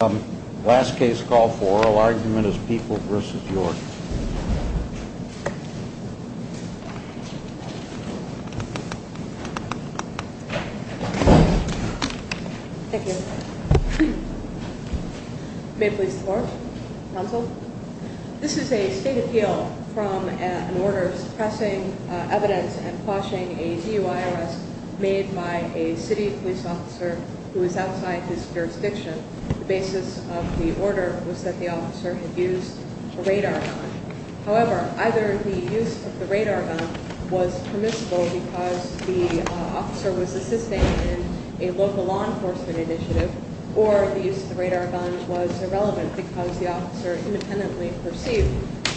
This is a state appeal from an order suppressing evidence and quashing a DUI arrest made by a city police officer who is outside his jurisdiction. The basis of the order was that the officer had used a radar gun. However, either the use of the radar gun was permissible because the officer was assisting in a local law enforcement initiative or the use of the radar gun was irrelevant because the officer independently perceived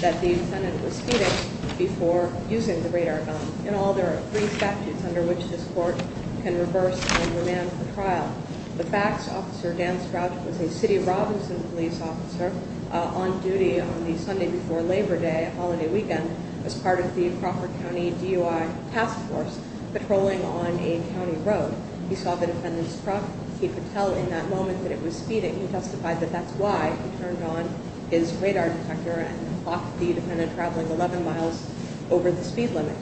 that the defendant was cheating before using the radar gun. In all, there are three statutes under which this court can reverse and remand the trial. The facts officer, Dan Strouch, was a City of Robinson police officer on duty on the Sunday before Labor Day, a holiday weekend, as part of the Crawford County DUI Task Force patrolling on a county road. He saw the defendant's truck. He could tell in that moment that it was speeding. He testified that that's why he turned on his radar detector and clocked the defendant traveling 11 miles over the speed limit.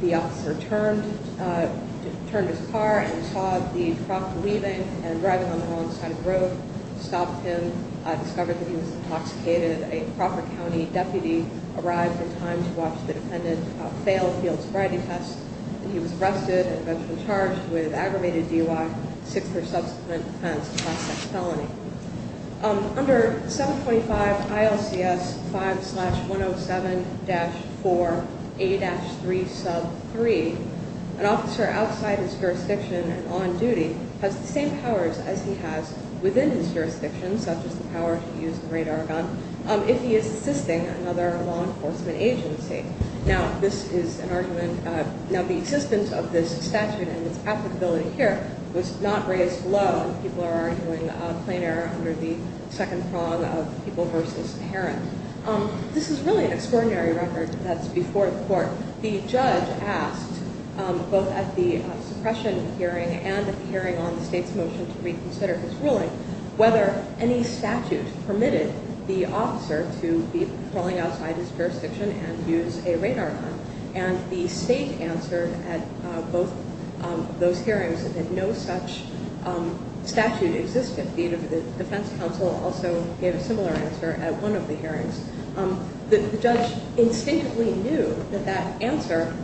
The officer turned his car and saw the truck leaving and driving on the wrong side of the road, stopped him, discovered that he was intoxicated. A Crawford County deputy arrived in time to watch the defendant fail the field sobriety test. He was arrested and eventually charged with aggravated DUI, sick for subsequent offense, class X felony. Under 725 ILCS 5-107-4A-3 sub 3, an officer outside his jurisdiction and on duty has the same powers as he has within his jurisdiction, such as the power to use the radar gun, if he is assisting another law enforcement agency. Now, this is an argument, now the existence of this statute and its applicability here was not raised low. People are arguing a plain error under the second prong of people versus parent. This is really an extraordinary record that's before the court. The judge asked, both at the suppression hearing and at the hearing on the state's motion to reconsider his ruling, whether any statute permitted the officer to be patrolling outside his jurisdiction and use a radar gun. And the state answered at both of those hearings that no such statute existed. The defense counsel also gave a similar answer at one of the hearings. The judge instinctively knew that that answer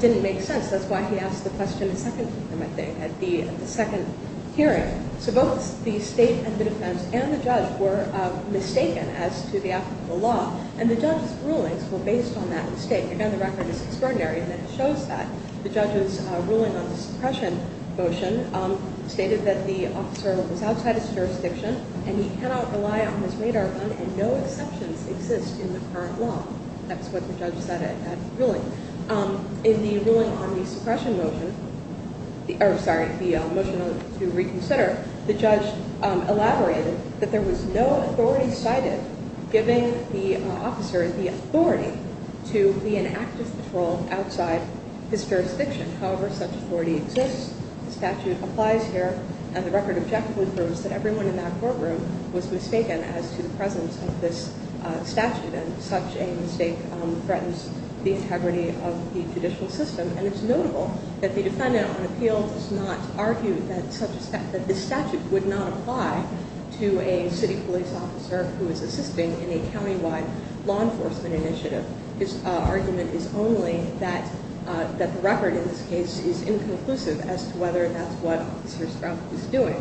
didn't make sense. That's why he asked the question a second time, I think, at the second hearing. So both the state and the defense and the judge were mistaken as to the applicable law. And the judge's rulings were based on that mistake. Again, the record is extraordinary in that it shows that. The judge's ruling on the suppression motion stated that the officer was outside his jurisdiction and he cannot rely on his radar gun and no exceptions exist in the current law. That's what the judge said at the ruling. In the ruling on the suppression motion, or sorry, the motion to reconsider, the judge elaborated that there was no authority cited giving the officer the authority to be in active patrol outside his jurisdiction. However, such authority exists. The statute applies here. And the record objectively proves that everyone in that courtroom was mistaken as to the presence of this statute. And such a mistake threatens the integrity of the judicial system. And it's notable that the defendant on appeal does not argue that this statute would not apply to a city police officer who is assisting in a countywide law enforcement initiative. His argument is only that the record in this case is inconclusive as to whether that's what Officer Strauch was doing,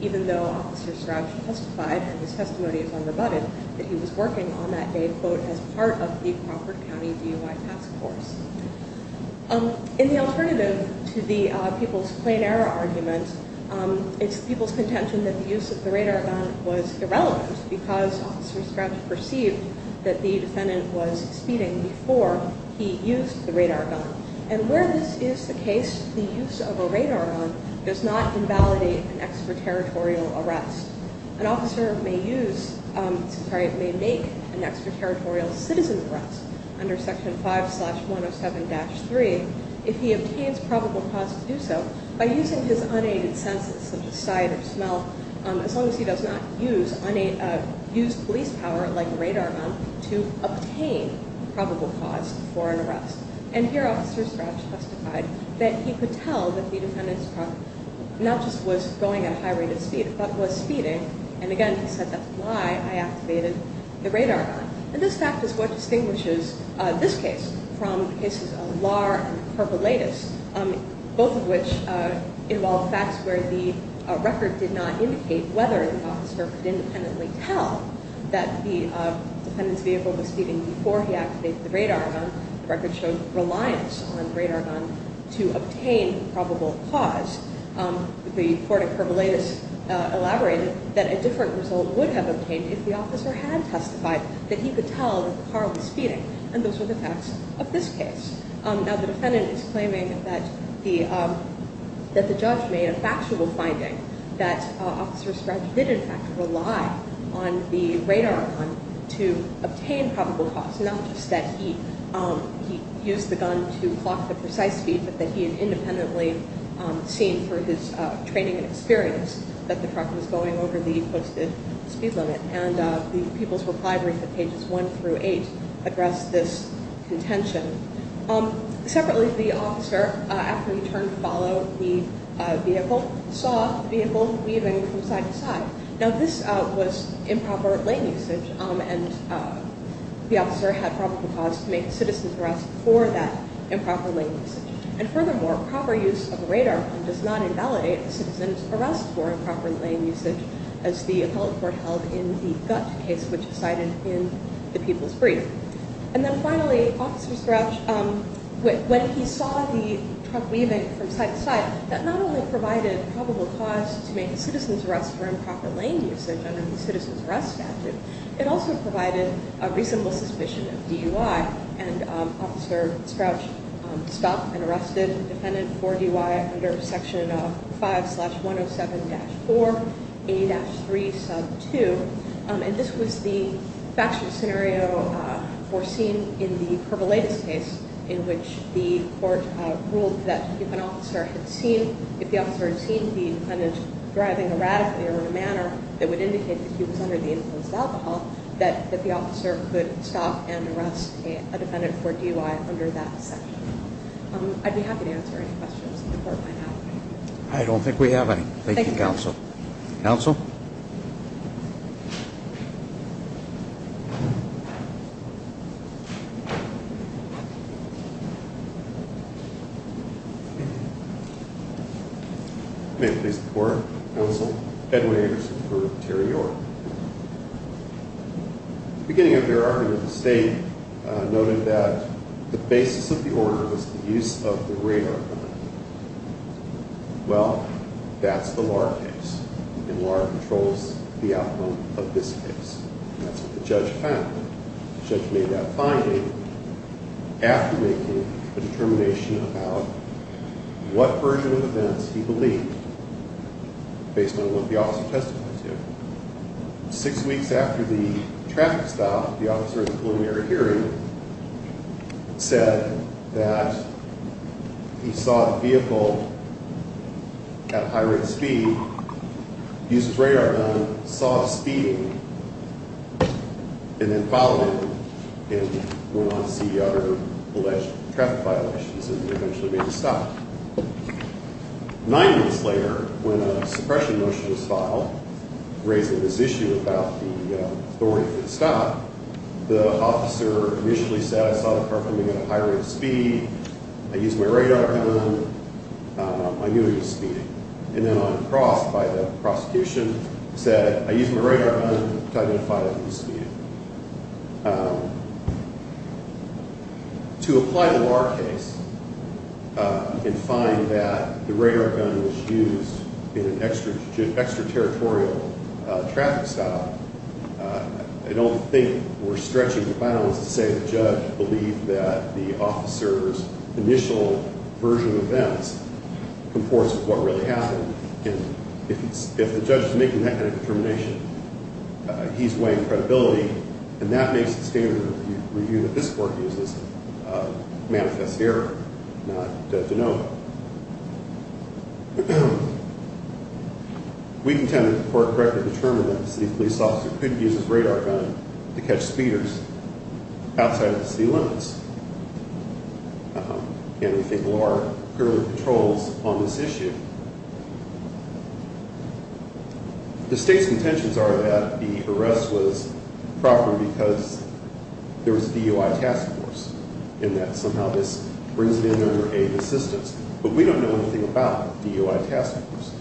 even though Officer Strauch testified, and his testimony is unrebutted, that he was working on that day, quote, as part of the Crawford County DUI task force. In the alternative to the people's plain error argument, it's people's contention that the use of the radar gun was irrelevant because Officer Strauch perceived that the defendant was speeding before he used the radar gun. And where this is the case, the use of a radar gun does not invalidate an extraterritorial arrest. An officer may use, sorry, may make an extraterritorial citizen's arrest under Section 5-107-3 if he obtains probable cause to do so by using his unaided senses, such as sight or smell, as long as he does not use police power like a radar gun to obtain probable cause for an arrest. And here Officer Strauch testified that he could tell that the defendant's truck not just was going at a high rate of speed, but was speeding. And again, he said, that's why I activated the radar gun. And this fact is what distinguishes this case from the cases of Lahr and Kervouletis, both of which involve facts where the record did not indicate whether the officer could independently tell that the defendant's vehicle was speeding before he activated the radar gun. The record showed reliance on the radar gun to obtain probable cause. The court at Kervouletis elaborated that a different result would have obtained if the officer had testified that he could tell that the car was speeding, and those were the facts of this case. Now, the defendant is claiming that the judge made a factual finding, that Officer Strauch did, in fact, rely on the radar gun to obtain probable cause, not just that he used the gun to clock the precise speed, but that he had independently seen for his training and experience that the truck was going over the posted speed limit. And the People's Reply brief at pages 1 through 8 addressed this contention. Separately, the officer, after he turned to follow the vehicle, saw the vehicle weaving from side to side. Now, this was improper lane usage, and the officer had probable cause to make a citizen's arrest for that improper lane usage. And furthermore, proper use of a radar gun does not invalidate a citizen's arrest for improper lane usage, as the appellate court held in the Gutt case, which is cited in the People's Brief. And then finally, Officer Strauch, when he saw the truck weaving from side to side, that not only provided probable cause to make a citizen's arrest for improper lane usage under the citizen's arrest statute, it also provided a reasonable suspicion of DUI, and Officer Strauch stopped and arrested the defendant for DUI under Section 5-107-4A-3 sub 2. And this was the factual scenario foreseen in the Pervoletis case, in which the court ruled that if an officer had seen the defendant driving erratically or in a manner that would indicate that he was under the influence of alcohol, that the officer could stop and arrest a defendant for DUI under that section. I'd be happy to answer any questions that the court might have. I don't think we have any. Thank you, Counsel. Counsel? I may please report, Counsel. Edwin Anderson for Terry York. At the beginning of your argument, the State noted that the basis of the order was the use of the radar gun. Well, that's the Lahr case, and Lahr controls the outcome of this case. And that's what the judge found. The judge made that finding after making a determination about what version of events he believed, based on what the officer testified to. Six weeks after the traffic stop, the officer at the preliminary hearing said that he saw the vehicle at high rate of speed, used his radar gun, saw it speeding, and then followed it and went on to see other alleged traffic violations and eventually made a stop. Nine weeks later, when a suppression motion was filed raising this issue about the authority of the stop, the officer initially said, I saw the car coming at a high rate of speed, I used my radar gun, I knew it was speeding. And then uncrossed by the prosecution said, I used my radar gun to identify that it was speeding. To apply the Lahr case and find that the radar gun was used in an extraterritorial traffic stop, I don't think we're stretching the bounds to say the judge believed that the officer's initial version of events comports with what really happened. And if the judge is making that kind of determination, he's weighing credibility, and that makes the standard review that this court uses manifest error, not to know it. We contend that the court correctly determined that the city police officer could use his radar gun to catch speeders outside of the city limits. And we think Lahr currently controls on this issue. The state's contentions are that the arrest was proper because there was a DOI task force, and that somehow this brings it under aid and assistance. But we don't know anything about the DOI task force.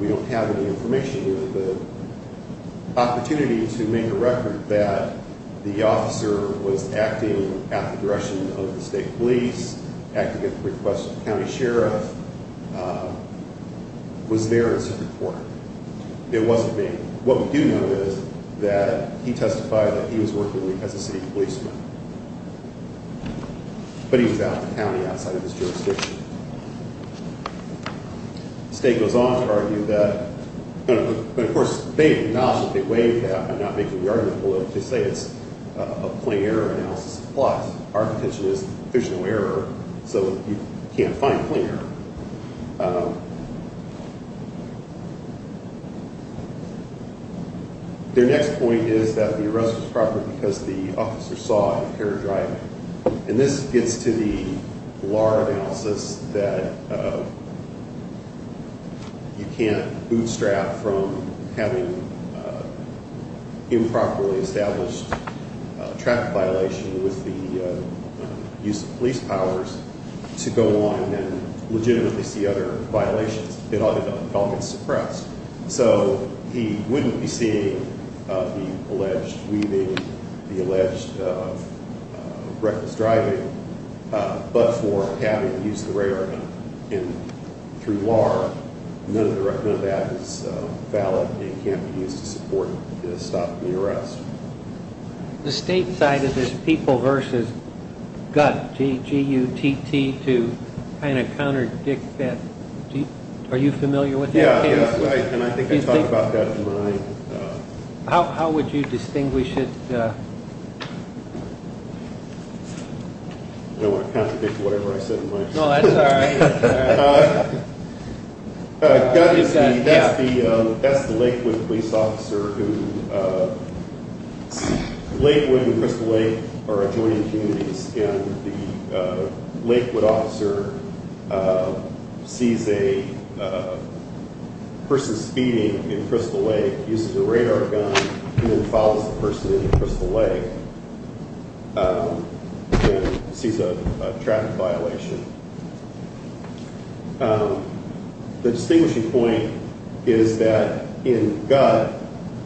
We don't have any information. The opportunity to make a record that the officer was acting at the direction of the state police, acting at the request of the county sheriff, was there in a certain corner. It wasn't me. What we do know is that he testified that he was working as a city policeman. But he was out in the county outside of his jurisdiction. The state goes on to argue that, but of course they acknowledge that they weighed that. I'm not making the argument to say it's a plain error analysis. But our contention is there's no error, so you can't find plain error. Their next point is that the arrest was proper because the officer saw him paradriving. And this gets to the lar analysis that you can't bootstrap from having improperly established traffic violation with the use of police powers to go on and legitimately see other violations. It all gets suppressed. So he wouldn't be seeing the alleged weaving, the alleged reckless driving, but for having used the radar through lar, none of that is valid and can't be used to stop the arrest. The state side of this people versus gut, G-U-T-T, to kind of counterdict that, are you familiar with that case? And I think I talked about that in my... How would you distinguish it? I don't want to counterdict whatever I said in my... No, that's all right. That's the Lakewood police officer who, Lakewood and Crystal Lake are adjoining communities, and the Lakewood officer sees a person speeding in Crystal Lake using a radar gun and then follows the person into Crystal Lake and sees a traffic violation. The distinguishing point is that in gut,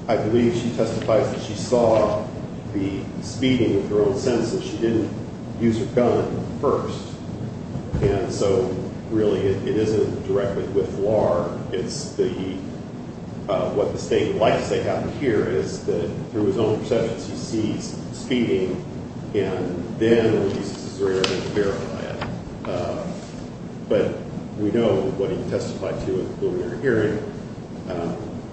I believe she testifies that she saw the speeding with her own senses. She didn't use her gun first, and so really it isn't directly with lar. It's the... What the state would like to say happened here is that through his own perceptions he sees speeding and then uses his radar gun to verify it. But we know what he testified to at the preliminary hearing.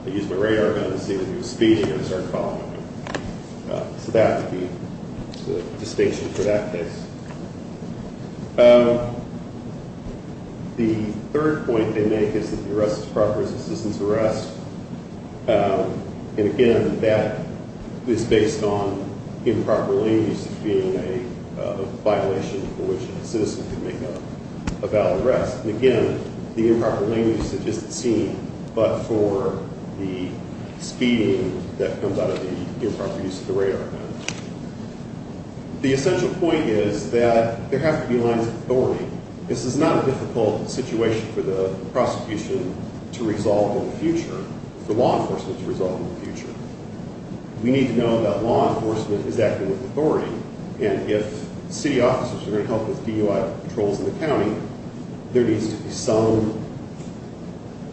I used my radar gun to see that he was speeding and started following him. So that would be the distinction for that case. The third point they make is that the arrest is a proper resistance arrest. And again, that is based on improper language as being a violation for which a citizen can make a valid arrest. And again, the improper language is just seen but for the speeding that comes out of the improper use of the radar gun. The essential point is that there have to be lines of authority. This is not a difficult situation for the prosecution to resolve in the future, for law enforcement to resolve in the future. We need to know that law enforcement is acting with authority. And if city officers are going to help with DUI patrols in the county, there needs to be some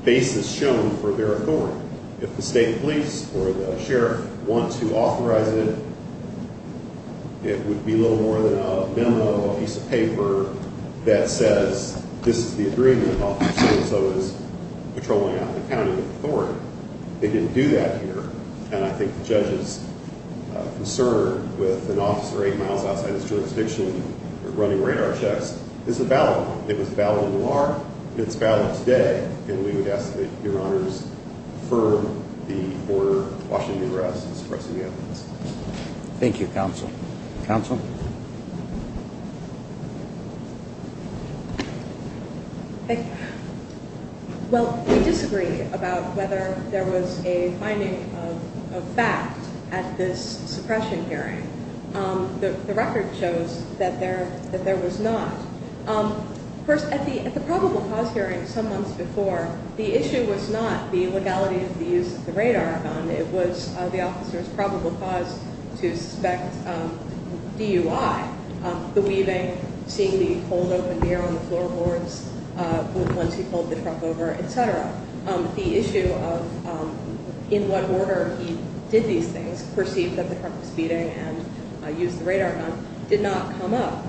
basis shown for their authority. If the state police or the sheriff want to authorize it, it would be little more than a memo, a piece of paper that says, this is the agreement officer, so-and-so is patrolling out in the county with authority. They didn't do that here. And I think the judge's concern with an officer eight miles outside his jurisdiction running radar checks is a valid one. It was valid in the law. It's valid today. And we would ask that your honors defer the order of washing the arrests and suppressing the evidence. Thank you, counsel. Counsel? Well, we disagree about whether there was a finding of fact at this suppression hearing. The record shows that there was not. Of course, at the probable cause hearing some months before, the issue was not the legality of the use of the radar gun. It was the officer's probable cause to suspect DUI, the weaving, seeing the cold open beer on the floorboards once he pulled the truck over, etc. The issue of in what order he did these things, perceived that the truck was speeding and used the radar gun, did not come up.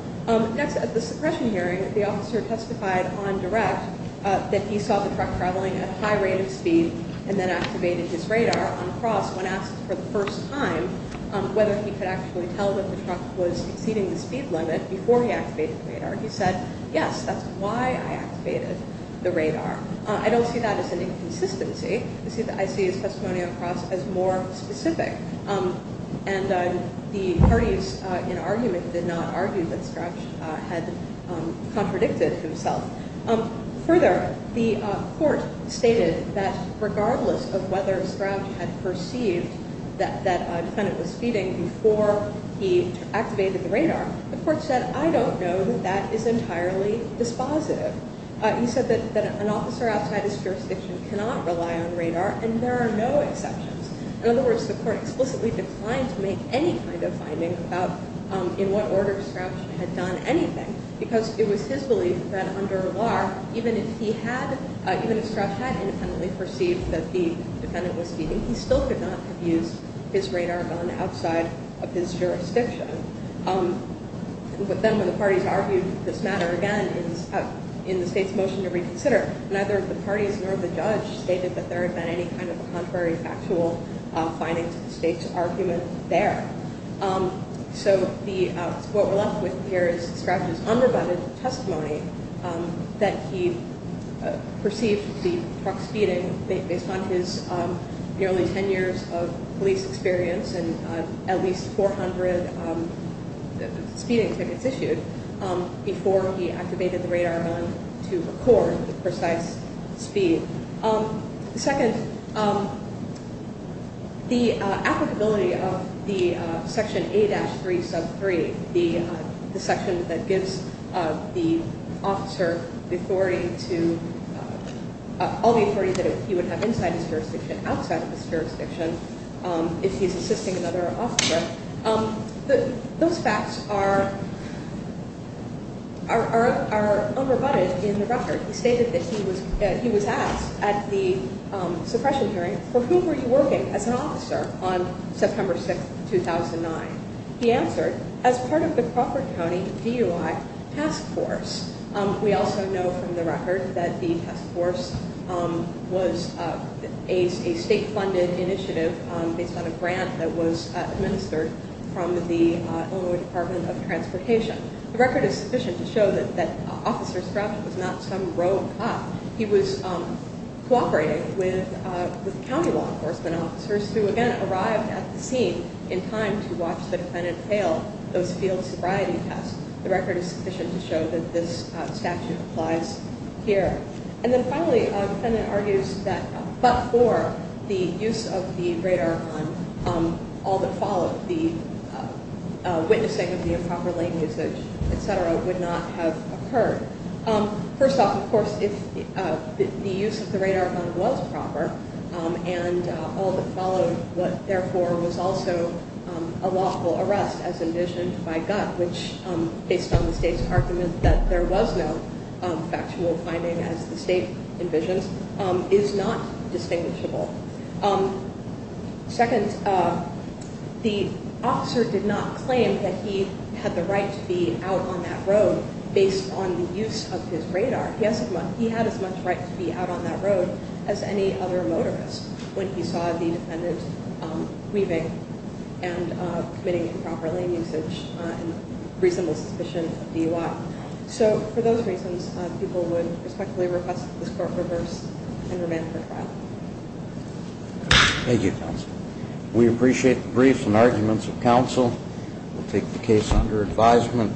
Next, at the suppression hearing, the officer testified on direct that he saw the truck traveling at a high rate of speed and then activated his radar on the cross. When asked for the first time whether he could actually tell that the truck was exceeding the speed limit before he activated the radar, he said, yes, that's why I activated the radar. I don't see that as an inconsistency. I see his testimony on the cross as more specific. And the parties in argument did not argue that Scratch had contradicted himself. Further, the court stated that regardless of whether Scratch had perceived that a defendant was speeding before he activated the radar, the court said, I don't know that that is entirely dispositive. He said that an officer outside his jurisdiction cannot rely on radar and there are no exceptions. In other words, the court explicitly declined to make any kind of finding about in what order Scratch had done anything because it was his belief that under law, even if he had, even if Scratch had independently perceived that the defendant was speeding, he still could not have used his radar gun outside of his jurisdiction. But then when the parties argued this matter again in the state's motion to reconsider, neither the parties nor the judge stated that there had been any kind of a contrary factual finding to the state's argument there. So what we're left with here is Scratch's unrebutted testimony that he perceived the truck speeding based on his nearly 10 years of police experience and at least 400 speeding tickets issued before he activated the radar gun to record the precise speed. Second, the applicability of the section A-3 sub 3, the section that gives the officer the authority to, all the authority that he would have inside his jurisdiction, outside of his jurisdiction if he's assisting another officer, those facts are unrebutted in the record. He stated that he was asked at the suppression hearing, for whom were you working as an officer on September 6, 2009? He answered, as part of the Crawford County DUI task force. We also know from the record that the task force was a state-funded initiative based on a grant that was administered from the Illinois Department of Transportation. The record is sufficient to show that Officer Scratch was not some rogue cop. He was cooperating with county law enforcement officers who again arrived at the scene in time to watch the defendant fail those field sobriety tests. The record is sufficient to show that this statute applies here. And then finally, the defendant argues that but for the use of the radar gun, all that followed, the witnessing of the improper lane usage, etc., would not have occurred. First off, of course, if the use of the radar gun was proper and all that followed, what therefore was also a lawful arrest as envisioned by GUT, which based on the state's argument that there was no factual finding as the state envisions, is not distinguishable. Second, the officer did not claim that he had the right to be out on that road based on the use of his radar. He had as much right to be out on that road as any other motorist when he saw the defendant weaving and committing improper lane usage in reasonable suspicion of DUI. So for those reasons, people would respectfully request that this court reverse and remand for trial. Thank you, counsel. We appreciate the briefs and arguments of counsel. We'll take the case under advisement.